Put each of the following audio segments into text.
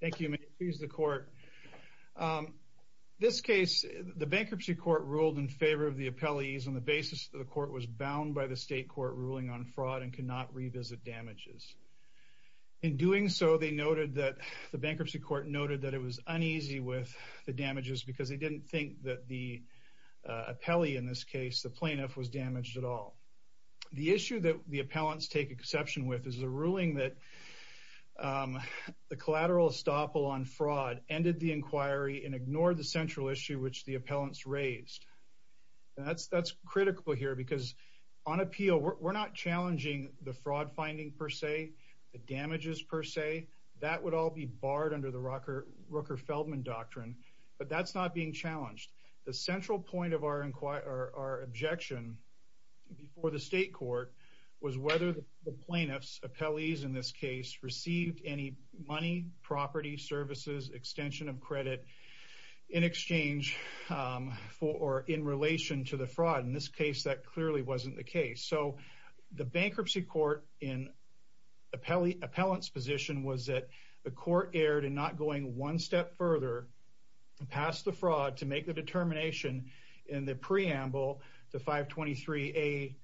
The bankruptcy court ruled in favor of the appellees on the basis that the court was bound by the state court ruling on fraud and could not revisit damages. In doing so, the bankruptcy court noted that it was uneasy with the damages because they didn't think that the plaintiff was damaged at all. The issue that the appellants take exception with is the ruling that the collateral estoppel on fraud ended the inquiry and ignored the central issue which the appellants raised. That's critical here because on appeal, we're not challenging the fraud finding per se, the damages per se. That would all be barred under the Rooker-Feldman doctrine, but that's not being challenged. The central point of our objection before the state court was whether the plaintiffs, appellees in this case, received any money, property, services, extension of credit in exchange for or in relation to the fraud. In this case, that clearly wasn't the case. So the bankruptcy court in appellant's position was that the court erred in not going one determination in the preamble to 523A2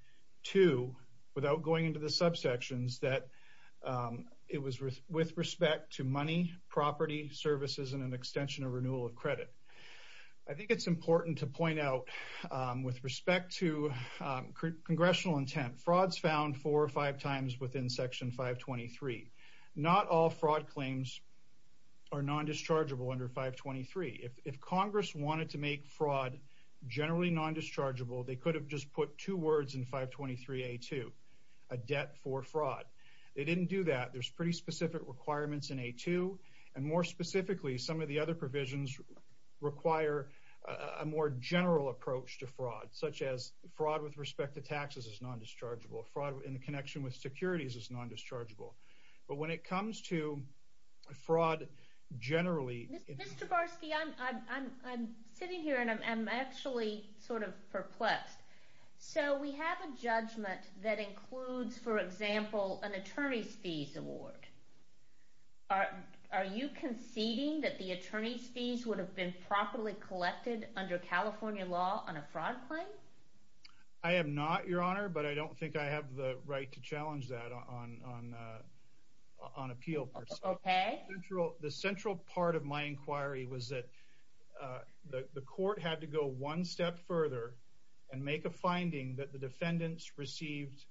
without going into the subsections that it was with respect to money, property, services, and an extension or renewal of credit. I think it's important to point out with respect to congressional intent, fraud's found four or five times within section 523. Not all fraud claims are non-dischargeable under 523. If Congress wanted to make fraud generally non-dischargeable, they could have just put two words in 523A2, a debt for fraud. They didn't do that. There's pretty specific requirements in A2, and more specifically, some of the other provisions require a more general approach to fraud, such as fraud with respect to taxes is non-dischargeable. Fraud in connection with securities is non-dischargeable. But when it comes to fraud generally... Mr. Barsky, I'm sitting here and I'm actually sort of perplexed. So we have a judgment that includes, for example, an attorney's fees award. Are you conceding that the attorney's fees would have been properly collected under California law on a fraud claim? I am not, Your Honor, but I don't think I have the right to challenge that on appeal. Okay. The central part of my inquiry was that the court had to go one step further and make a finding that the defendants received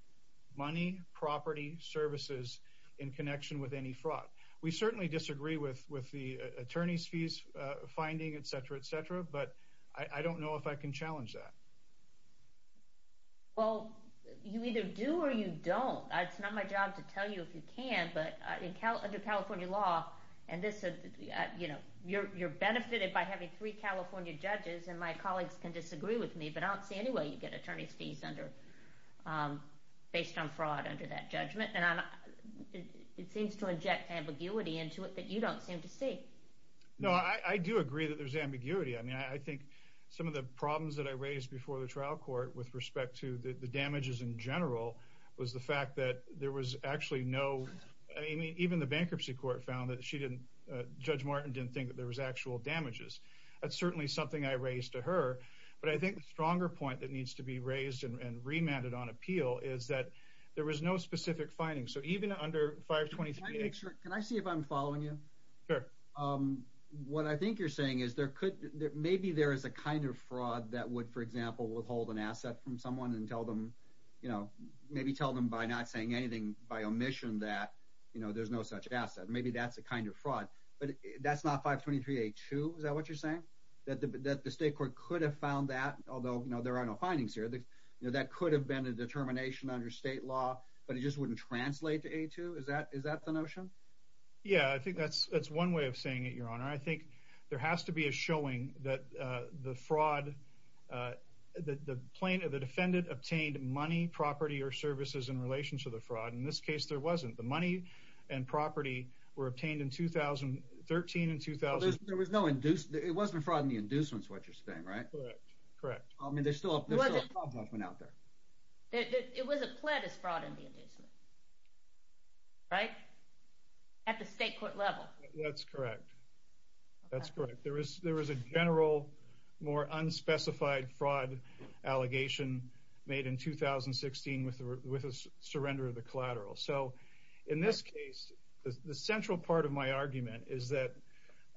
money, property, services in connection with any fraud. We certainly disagree with the attorney's fees finding, et cetera, et cetera, but I don't know if I can challenge that. Well, you either do or you don't. It's not my job to tell you if you can, but under California law, you're benefited by having three California judges and my colleagues can disagree with me, but I don't see any way you get attorney's fees based on fraud under that judgment. And it seems to inject ambiguity into it that you don't seem to see. No, I do agree that there's ambiguity. I mean, I think some of the problems that I raised before the trial court with respect to the damages in general was the fact that there was actually no, I mean, even the bankruptcy court found that she didn't, Judge Martin didn't think that there was actual damages. That's certainly something I raised to her. But I think the stronger point that needs to be raised and remanded on appeal is that there was no specific finding. So even under 523- Can I see if I'm following you? Sure. What I think you're saying is there could maybe there is a kind of fraud that would, for example, tell them, you know, maybe tell them by not saying anything by omission that, you know, there's no such asset. Maybe that's a kind of fraud, but that's not 523-A-2. Is that what you're saying? That the state court could have found that, although there are no findings here, that could have been a determination under state law, but it just wouldn't translate to A-2. Is that is that the notion? Yeah, I think that's that's one way of saying it, Your Honor. I think there has to be a showing that the fraud that the plaintiff, the defendant, obtained money, property or services in relation to the fraud. In this case, there wasn't. The money and property were obtained in 2013 and 2000. There was no induced. It wasn't a fraud in the inducements, is what you're saying, right? Correct. I mean, there's still a problem out there. It was a plebis fraud in the inducements, right? At the state court level. That's correct. That's correct. There is there is a general, more unspecified fraud allegation made in 2016 with a surrender of the collateral. So in this case, the central part of my argument is that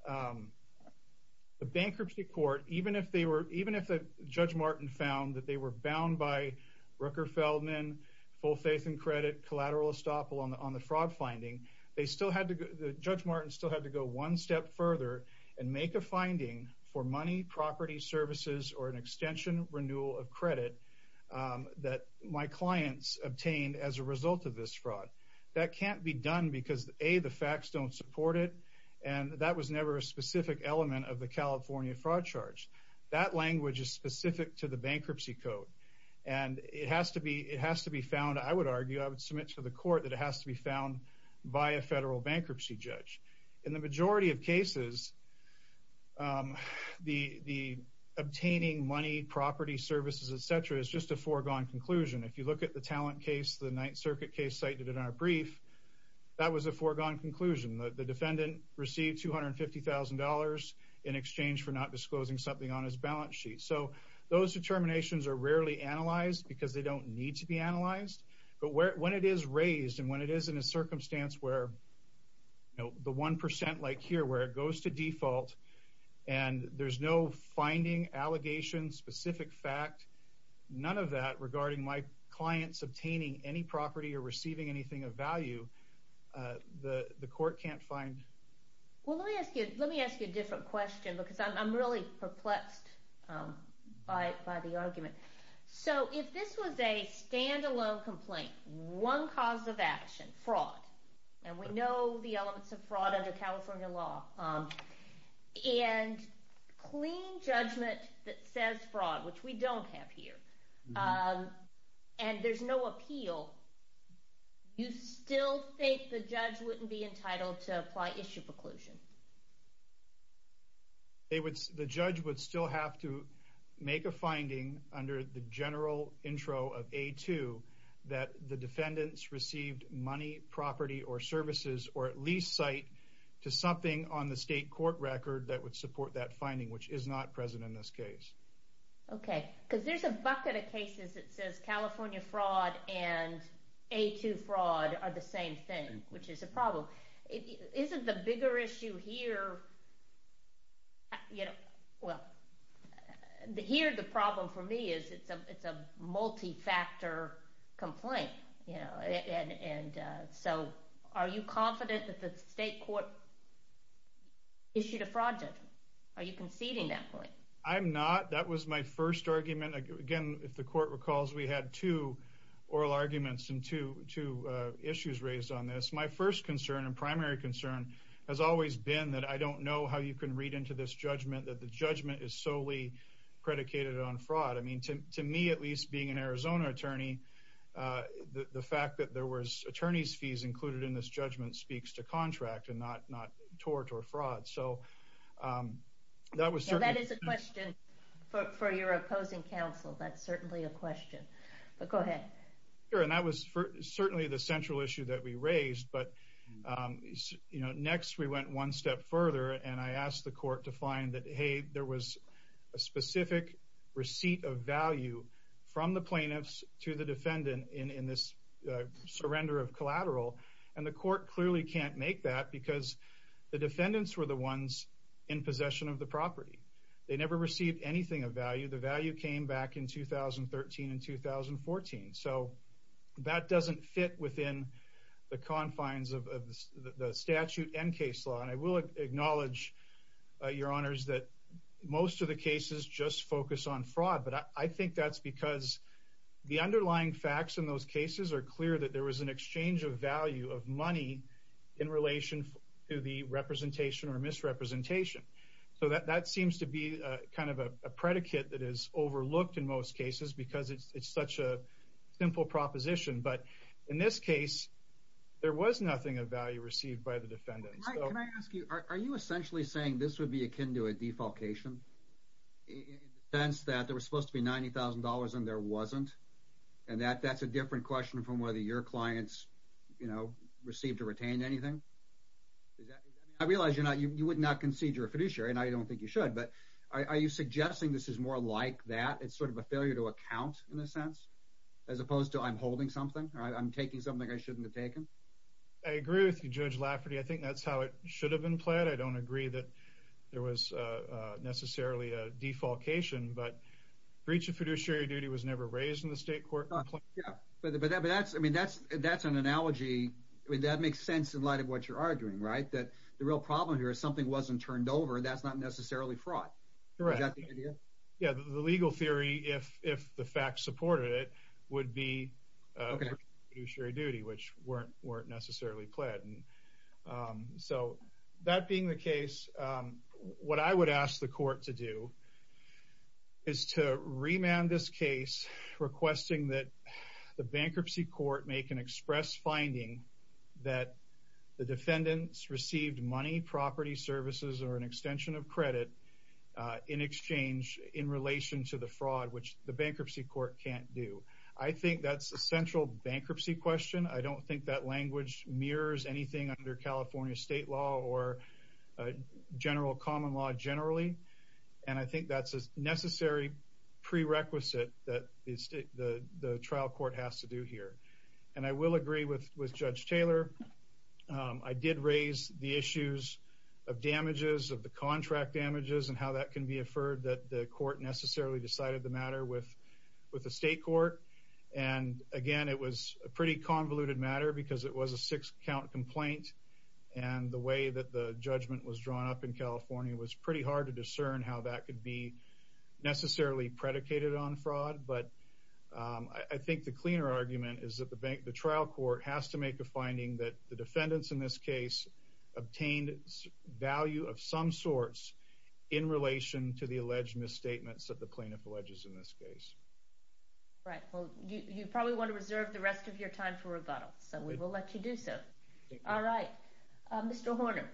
the bankruptcy court, even if they were even if Judge Martin found that they were bound by Rooker-Feldman, full faith and credit, collateral estoppel on the fraud finding, they still had to go. Judge Martin still had to go one step further and make a finding for money, property, services or an extension renewal of credit that my clients obtained as a result of this fraud. That can't be done because, A, the facts don't support it. And that was never a specific element of the California fraud charge. That language is specific to the bankruptcy code. And it has to be it has to be found. I would argue I would submit to the court that it has to be found by a federal bankruptcy judge. In the majority of cases, the obtaining money, property, services, etc. is just a foregone conclusion. If you look at the talent case, the Ninth Circuit case cited in our brief, that was a foregone conclusion. The defendant received $250,000 in exchange for not disclosing something on his balance sheet. So those determinations are rarely analyzed because they don't need to be analyzed. But when it is raised and when it is in a circumstance where the one percent like here where it goes to default and there's no finding, allegation, specific fact, none of that regarding my clients obtaining any property or receiving anything of value, the court can't find. Well, let me ask you let me ask you a different question because I'm really perplexed by the argument. So if this was a standalone complaint, one cause of action, fraud, and we know the elements of fraud under California law and clean judgment that says fraud, which we don't have here, and there's no appeal, you still think the judge wouldn't be entitled to apply issue preclusion? It would, the judge would still have to make a finding under the general intro of A2 that the defendants received money, property, or services, or at least cite to something on the state court record that would support that finding, which is not present in this case. Okay, because there's a bucket of cases that says California fraud and A2 fraud are the same thing, which is a problem. Isn't the bigger issue here, you know, well, here the problem for me is it's a multi-factor complaint, you know, and so are you confident that the state court issued a fraud judgment? Are you conceding that point? I'm not. That was my first argument. Again, if the court recalls, we had two oral arguments and two issues raised on this. My first concern and primary concern has always been that I don't know how you can read into this judgment that the judgment is solely predicated on fraud. I mean, to me, at least being an Arizona attorney, the fact that there was attorney's fees included in this judgment speaks to contract and not tort or fraud. So that was certainly... That is a question for your opposing counsel. That's certainly a question. But go ahead. Sure, and that was certainly the central issue that we raised. But, you know, next we went one step further and I asked the court to find that, hey, there was a specific receipt of value from the plaintiffs to the defendant in this surrender of collateral. And the court clearly can't make that because the defendants were the ones in possession of the property. They never received anything of value. The value came back in 2013 and 2014. So that doesn't fit within the confines of the statute and case law. And I will acknowledge, your honors, that most of the cases just focus on fraud. But I think that's because the underlying facts in those cases are clear that there was an exchange of value of money in relation to the representation or in most cases, because it's such a simple proposition. But in this case, there was nothing of value received by the defendants. Mike, can I ask you, are you essentially saying this would be akin to a defalcation? In the sense that there was supposed to be $90,000 and there wasn't? And that that's a different question from whether your clients, you know, received or retained anything? I realize you're not, you would not concede you're a fiduciary and I don't think you should. But are you suggesting this is more like that? It's sort of a failure to account in a sense, as opposed to I'm holding something, right? I'm taking something I shouldn't have taken. I agree with you, Judge Lafferty. I think that's how it should have been played. I don't agree that there was necessarily a defalcation. But breach of fiduciary duty was never raised in the state court. Yeah, but that's I mean, that's, that's an analogy. I mean, that makes sense in light of what you're arguing, right? That the legal theory, if the facts supported it, would be fiduciary duty, which weren't weren't necessarily pled. And so that being the case, what I would ask the court to do is to remand this case, requesting that the bankruptcy court make an express finding that the defendants received money, property, services, or an extension of credit in exchange in relation to the fraud, which the bankruptcy court can't do. I think that's a central bankruptcy question. I don't think that language mirrors anything under California state law or general common law generally. And I think that's a necessary prerequisite that the trial court has to do here. And I will agree with Judge Taylor. I did raise the issues of damages of the contract damages and how that can be affirmed that the court necessarily decided the matter with, with the state court. And again, it was a pretty convoluted matter because it was a six count complaint. And the way that the judgment was drawn up in California was pretty hard to discern how that could be necessarily predicated on fraud. But I think the cleaner argument is that the bank, the trial court has to make a finding that the defendants in this case obtained value of some sorts in relation to the alleged misstatements that the plaintiff alleges in this case. Right. Well, you probably want to reserve the rest of your time for rebuttal. So we will let you do so. All right. Mr. Horner.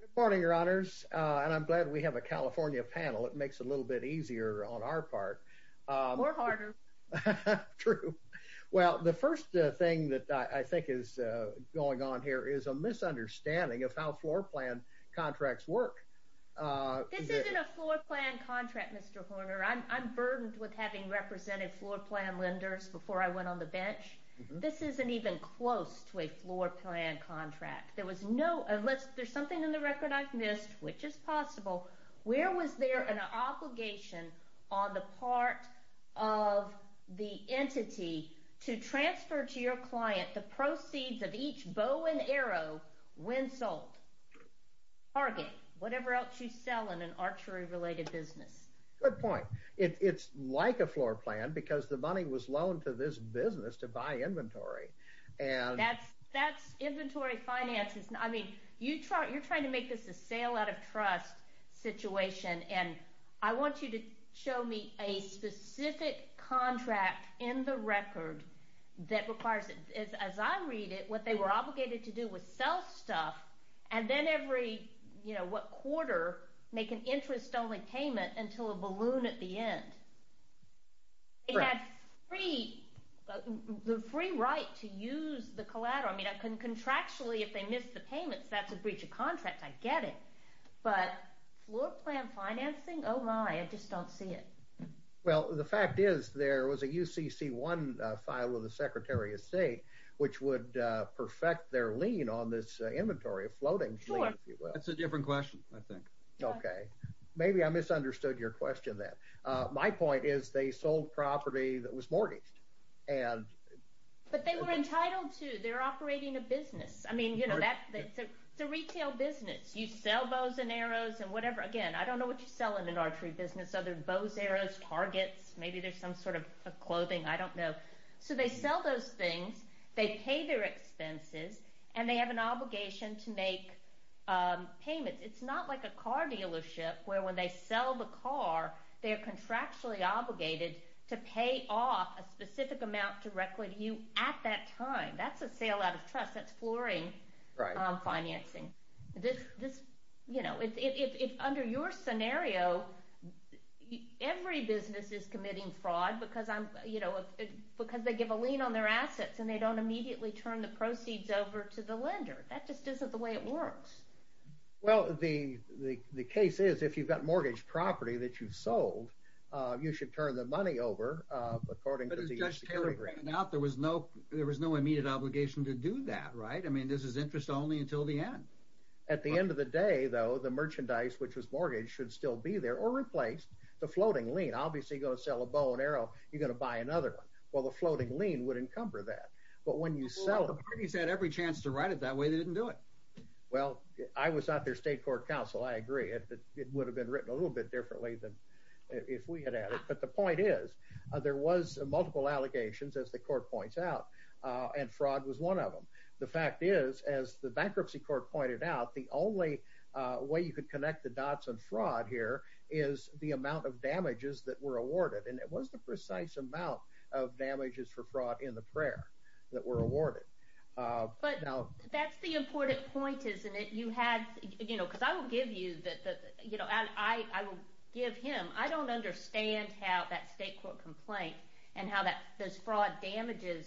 Good morning, Your Honors. And I'm glad we have a California panel. It makes it a little bit easier on our part. More harder. True. Well, the first thing that I think is going on here is a misunderstanding of how floor plan contracts work. This isn't a floor plan contract, Mr. Horner. I'm burdened with having represented floor plan lenders before I went on the bench. This isn't even close to a floor plan contract. There was no unless there's something in the record I've missed, which is possible. Where was there an obligation on the part of the entity to transfer to your client the proceeds of each bow and arrow when sold? Target, whatever else you sell in an archery related business. Good point. It's like a floor plan because the money was loaned to this business to buy inventory. That's inventory finances. I mean, you're trying to make this a sale out of trust situation. And I want you to show me a specific contract in the record that requires it. As I read it, what they were obligated to do was sell stuff and then every, you know, what quarter make an interest only payment until a balloon at the end. They had free, the free right to use the collateral. I mean, I can contractually if they missed the payments, that's a breach of contract. I get it. But floor plan financing? Oh my, I just don't see it. Well, the fact is, there was a UCC1 file with the Secretary of State, which would perfect their lien on this inventory, a floating lien, if you will. That's a different question, I think. Okay. Maybe I misunderstood your question then. My point is they sold property that was mortgaged. But they were entitled to, they're operating a business. I mean, you know, that's a retail business. You sell bows and arrows and whatever. Again, I don't know what you sell in an archery business other than bows, arrows, targets. Maybe there's some sort of clothing. I don't know. So they sell those things. They pay their expenses and they have an obligation to make payments. It's not like a car dealership where when they sell the car, they're contractually obligated to pay off a specific amount directly to you at that time. That's a sale out of trust. That's flooring financing. This, you know, if under your scenario, every business is committing fraud because I'm, you know, because they give a lien on their assets and they don't immediately turn the proceeds over to the lender. That just isn't the way it works. Well, the case is if you've got mortgage property that you've sold, you should turn the money over according to the security grant. But as Josh Taylor pointed out, there was no immediate obligation to do that, right? I mean, this is interest only until the end. At the end of the day, though, the merchandise, which was mortgaged, should still be there or replaced. The floating lien, obviously you're going to sell a bow and arrow, you're going to buy another one. Well, the floating lien would encumber that. But when you sell... Well, the parties had every chance to write it that way. They didn't do it. Well, I was at their state court counsel. I agree. It would have been written a little bit differently than if we had at it. But the point is, there was multiple allegations, as the court points out, and fraud was one of them. The fact is, as the bankruptcy court pointed out, the only way you could connect the dots on fraud here is the amount of damages that were awarded. And it was the precise amount of damages for fraud in the prayer that were awarded. But that's the important point, isn't it? You had, you know, because I will give you that, you know, and I will give him, I don't understand how that state court complaint and how those fraud damages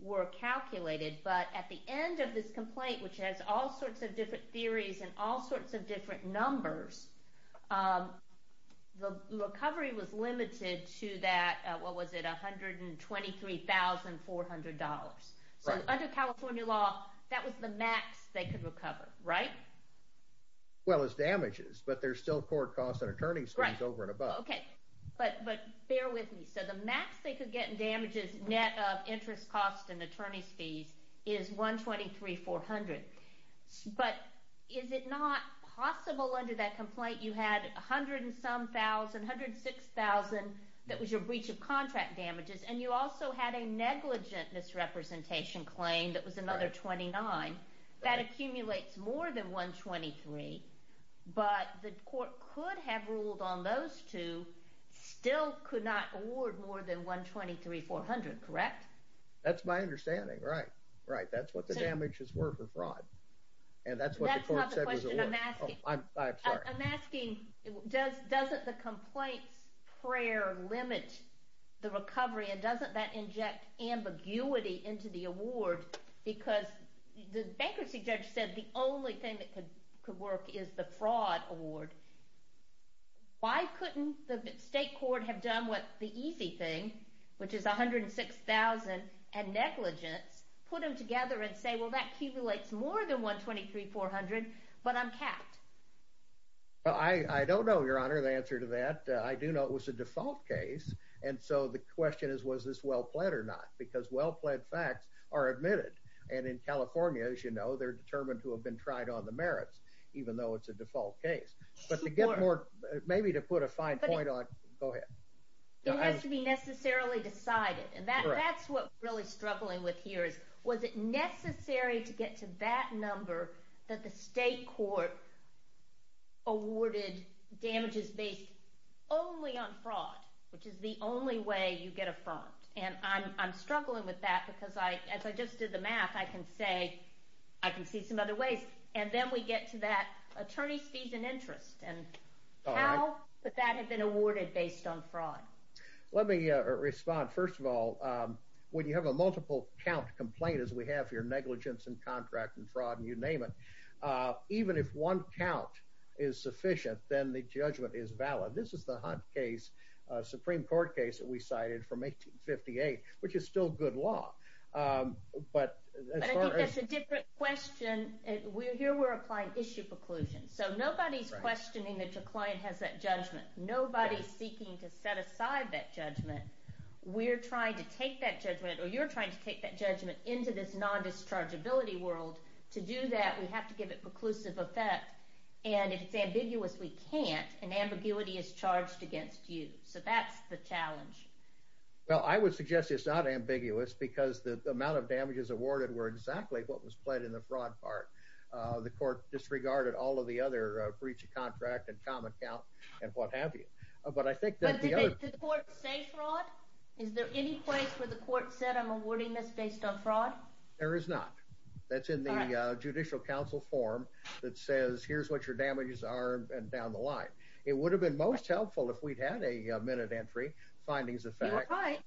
were calculated. But at the end of this complaint, which has all sorts of different theories and all sorts of different numbers, the recovery was limited to that, what was it, $123,400. So under California law, that was the max they could recover, right? Well, it's damages, but there's still court costs and attorney's fees over and above. Right. Okay. But bear with me. So the max they could get in damages, net of interest costs and attorney's fees, is $123,400. But is it not possible under that complaint you had a hundred and some thousand, $106,000 that was your breach of contract damages, and you also had a negligent misrepresentation claim that was another $29,000. That accumulates more than $123,000, but the court could have ruled on those two, still could not award more than $123,400, correct? That's my understanding. Right. Right. That's what the damages were for fraud. That's not the question I'm asking. I'm sorry. I'm asking, doesn't the complaint's prayer limit the recovery, and doesn't that inject ambiguity into the award, because the bankruptcy judge said the only thing that could work is the fraud award. Why couldn't the state court have done what the easy thing, which is $106,000 and negligence, put them together and say, well, that accumulates more than $123,400, but I'm capped? Well, I don't know, Your Honor, the answer to that. I do know it was a default case. And so the question is, was this well-pled or not, because well-pled facts are admitted. And in California, as you know, they're determined to have been tried on the merits, even though it's a default case. Maybe to put a fine point on, go ahead. It has to be necessarily decided. And that's what we're really struggling with here is, was it necessary to get to that number that the state court awarded damages based only on fraud, which is the only way you get a fraud? And I'm struggling with that, because as I just did the math, I can say I can see some other ways. And then we get to that attorney's fees and interest and how that had been awarded based on fraud. Let me respond. First of all, when you have a multiple count complaint, as we have here, negligence and contract and fraud and you name it, even if one count is sufficient, then the judgment is valid. This is the Hunt case, Supreme Court case that we cited from 1858, which is still good law. But that's a different question. Here we're applying issue preclusion. So nobody's questioning that your client has that judgment. Nobody's seeking to set aside that judgment. We're trying to take that judgment, or you're trying to take that judgment, into this non-dischargeability world. To do that, we have to give it preclusive effect. And if it's ambiguous, we can't. And ambiguity is charged against you. So that's the challenge. Well, I would suggest it's not ambiguous, because the amount of damages awarded were exactly what was pled in the fraud part. The court disregarded all of the other breach of contract and common count and what have you. But I think that the other— But did the court say fraud? Is there any place where the court said, I'm awarding this based on fraud? There is not. That's in the Judicial Council form that says, here's what your damages are, and down the line. It would have been most helpful if we'd had a minute entry, findings of fact. You're right.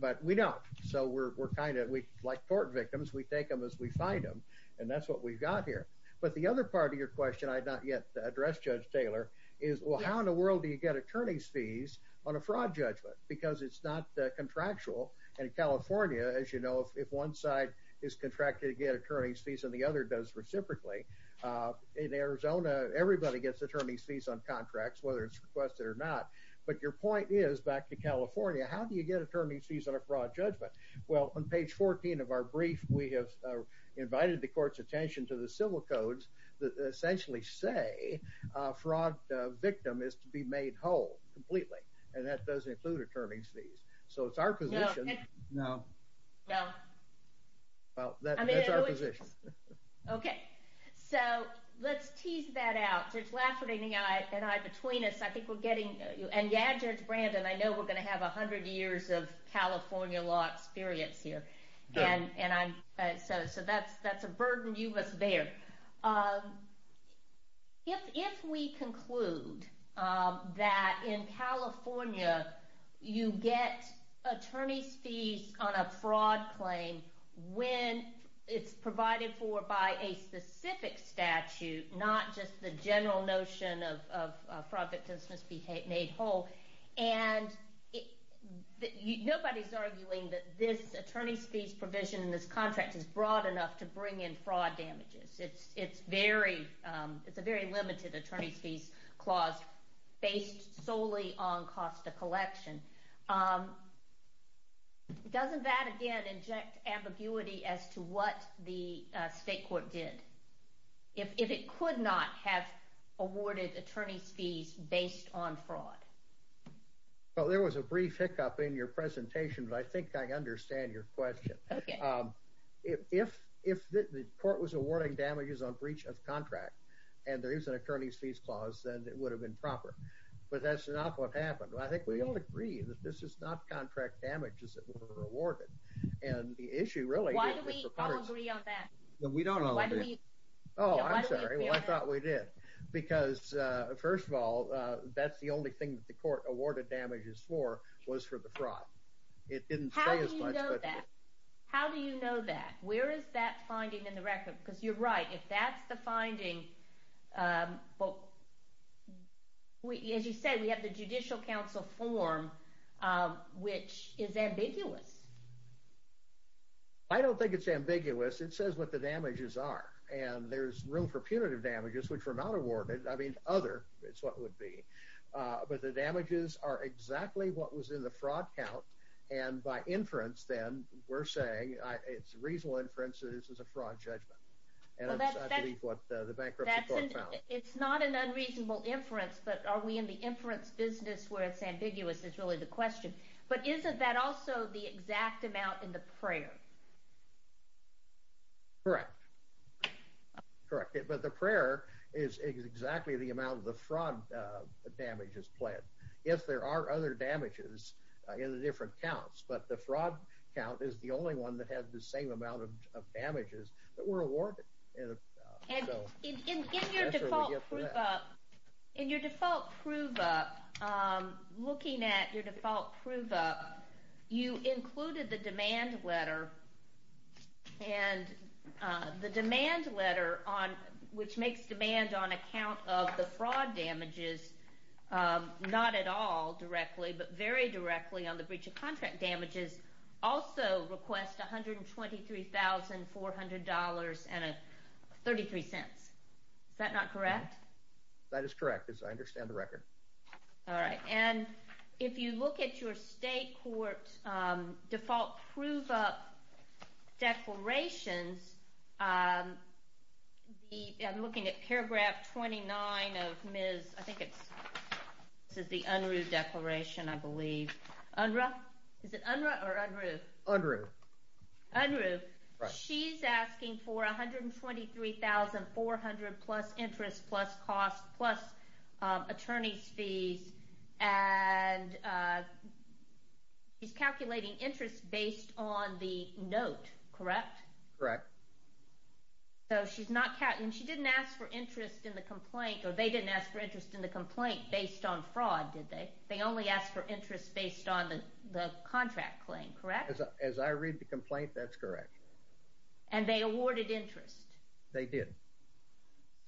But we don't. So we're kind of—like tort victims, we take them as we find them. And that's what we've got here. But the other part of your question I've not yet addressed, Judge Taylor, is, well, how in the world do you get attorney's fees on a fraud judgment? Because it's not contractual. And in California, as you know, if one side is contracted to get attorney's fees and the other does reciprocally, in Arizona, everybody gets attorney's fees on contracts, whether it's requested or not. But your point is, back in California, how do you get attorney's fees on a fraud judgment? Well, on page 14 of our brief, we have invited the court's attention to the civil codes that essentially say a fraud victim is to be made whole, completely. And that doesn't include attorney's fees. So it's our position. No. No. Well, that's our position. Okay. So let's tease that out. Judge Lafferty and I, between us, I think we're getting—and yeah, Judge Brandon, I know we're going to have 100 years of California law experience here. And I'm—so that's a burden you must bear. If we conclude that in California you get attorney's fees on a fraud claim when it's provided for by a specific statute, not just the general notion of fraud victims must be made whole, and nobody's arguing that this attorney's fees provision in this contract is broad enough to bring in fraud damages. It's a very limited attorney's fees clause based solely on cost of collection. Doesn't that, again, inject ambiguity as to what the state court did? If it could not have awarded attorney's fees based on fraud? Well, there was a brief hiccup in your presentation, but I think I understand your question. Okay. If the court was awarding damages on breach of contract and there is an attorney's fees clause, then it would have been proper. But that's not what happened. I think we all agree that this is not contract damages that were awarded. And the issue really is— Why do we all agree on that? We don't all agree. Why do we— Oh, I'm sorry. Well, I thought we did. Because, first of all, that's the only thing that the court awarded damages for was for the fraud. It didn't say as much— How do you know that? How do you know that? Where is that finding in the record? Because you're right. If that's the finding, as you said, we have the Judicial Council form, which is ambiguous. I don't think it's ambiguous. It says what the damages are. And there's room for punitive damages, which were not awarded. I mean, other is what it would be. But the damages are exactly what was in the fraud count. And by inference, then, we're saying it's a reasonable inference that this was a fraud judgment. And that's, I believe, what the bankruptcy court found. It's not an unreasonable inference. But are we in the inference business where it's ambiguous is really the question. But isn't that also the exact amount in the prayer? Correct. Correct. But the prayer is exactly the amount of the fraud damages pled. Yes, there are other damages in the different counts. But the fraud count is the only one that had the same amount of damages that were awarded. And in your default prove up, looking at your default prove up, you included the demand letter. And the demand letter, which makes demand on account of the fraud damages, not at all directly, but very directly on the breach of contract damages, also requests $123,400.33. Is that not correct? That is correct, as I understand the record. All right. And if you look at your state court default prove up declarations, I'm looking at paragraph 29 of Ms. I think it's the Unruh declaration, I believe. Unruh? Is it Unruh or Unruh? Unruh. Unruh. She's asking for $123,400 plus interest, plus costs, plus attorney's fees. And she's calculating interest based on the note, correct? Correct. So she's not calculating. She didn't ask for interest in the complaint, or they didn't ask for interest in the complaint based on fraud, did they? They only asked for interest based on the contract claim, correct? As I read the complaint, that's correct. And they awarded interest? They did.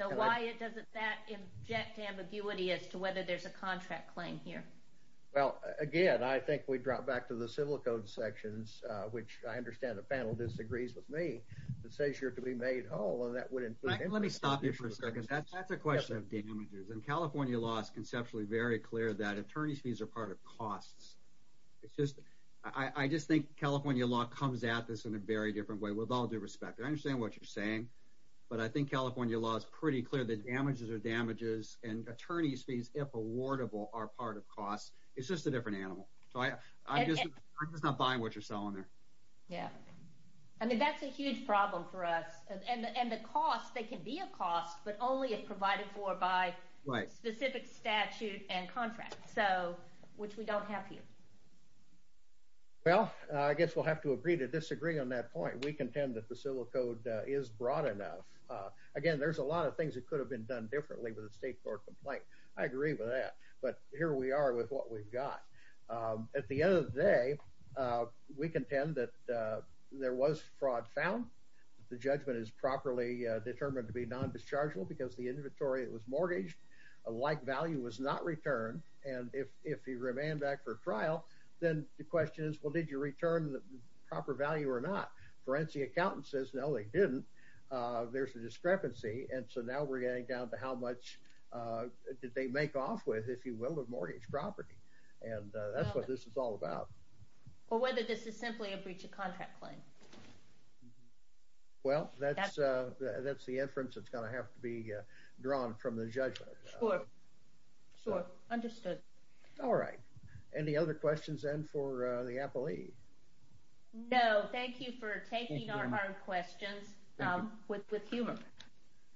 So why doesn't that inject ambiguity as to whether there's a contract claim here? Well, again, I think we drop back to the civil code sections, which I understand the panel disagrees with me, but says you're to be made whole, and that would include… Let me stop you for a second. That's a question of damages. And California law is conceptually very clear that attorney's fees are part of costs. I just think California law comes at this in a very different way, with all due respect. I understand what you're saying, but I think California law is pretty clear that damages are damages, and attorney's fees, if awardable, are part of costs. It's just a different animal. I'm just not buying what you're selling there. Yeah. I mean, that's a huge problem for us. And the costs, they can be a cost, but only if provided for by specific statute and contract, which we don't have here. Well, I guess we'll have to agree to disagree on that point. We contend that the civil code is broad enough. Again, there's a lot of things that could have been done differently with a state court complaint. I agree with that. But here we are with what we've got. At the end of the day, we contend that there was fraud found. The judgment is properly determined to be non-dischargeable because the inventory was mortgaged. A like value was not returned. And if he remained back for trial, then the question is, well, did you return the proper value or not? Forensic accountant says, no, they didn't. There's a discrepancy. And so now we're getting down to how much did they make off with, if you will, the mortgage property. And that's what this is all about. Or whether this is simply a breach of contract claim. Well, that's the inference that's going to have to be drawn from the judgment. Sure. Sure. Understood. All right. Any other questions then for the appellee? No, thank you for taking our hard questions with humor.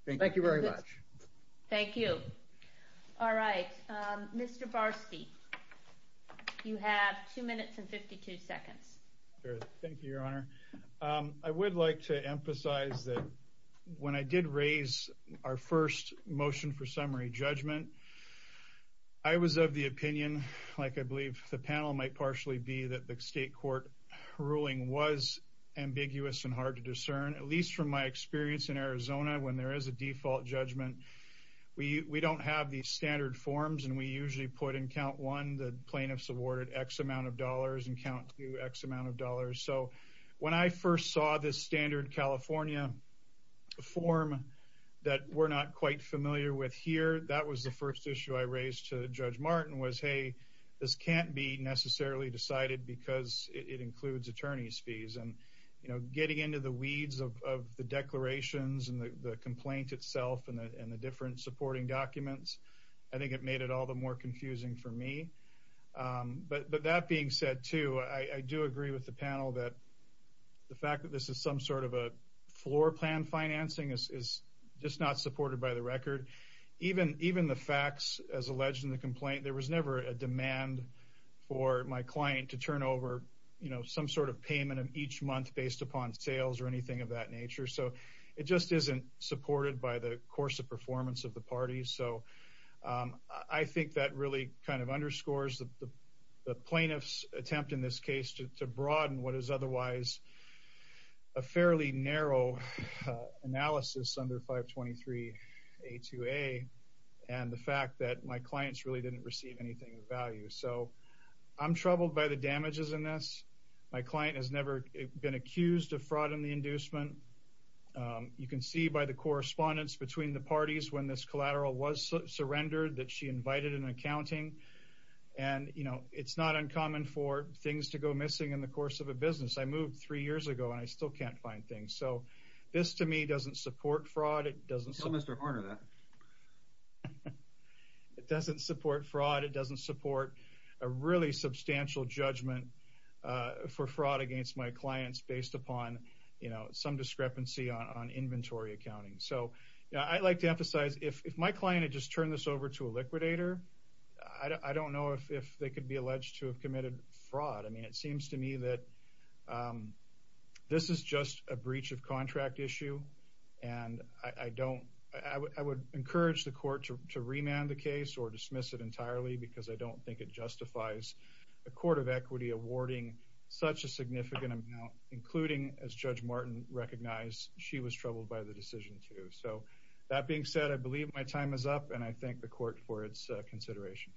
Thank you very much. Thank you. All right. Mr. Barsky, you have two minutes and 52 seconds. Thank you, Your Honor. I would like to emphasize that when I did raise our first motion for summary judgment, I was of the opinion, like I believe the panel might partially be, that the state court ruling was ambiguous and hard to discern. At least from my experience in Arizona, when there is a default judgment, we don't have these standard forms. And we usually put in count one the plaintiff's awarded X amount of dollars and count two X amount of dollars. So when I first saw this standard California form that we're not quite familiar with here, that was the first issue I raised to Judge Martin was, hey, this can't be necessarily decided because it includes attorney's fees. And, you know, getting into the weeds of the declarations and the complaint itself and the different supporting documents, I think it made it all the more confusing for me. But that being said, too, I do agree with the panel that the fact that this is some sort of a floor plan financing is just not supported by the record. Even the facts as alleged in the complaint, there was never a demand for my client to turn over, you know, some sort of payment of each month based upon sales or anything of that nature. So it just isn't supported by the course of performance of the party. So I think that really kind of underscores the plaintiff's attempt in this case to broaden what is otherwise a fairly narrow analysis under 523A2A and the fact that my clients really didn't receive anything of value. So I'm troubled by the damages in this. My client has never been accused of fraud in the inducement. You can see by the correspondence between the parties when this collateral was surrendered that she invited an accounting. And, you know, it's not uncommon for things to go missing in the course of a business. I moved three years ago and I still can't find things. So this to me doesn't support fraud. It doesn't support fraud. It doesn't support a really substantial judgment for fraud against my clients based upon, you know, some discrepancy on inventory accounting. So I'd like to emphasize if my client had just turned this over to a liquidator, I don't know if they could be alleged to have committed fraud. I mean, it seems to me that this is just a breach of contract issue. And I would encourage the court to remand the case or dismiss it entirely because I don't think it justifies a court of equity awarding such a significant amount, including, as Judge Martin recognized, she was troubled by the decision too. So that being said, I believe my time is up and I thank the court for its consideration.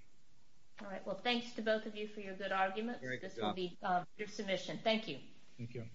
All right. Well, thanks to both of you for your good arguments. This will be your submission. Thank you. Thank you.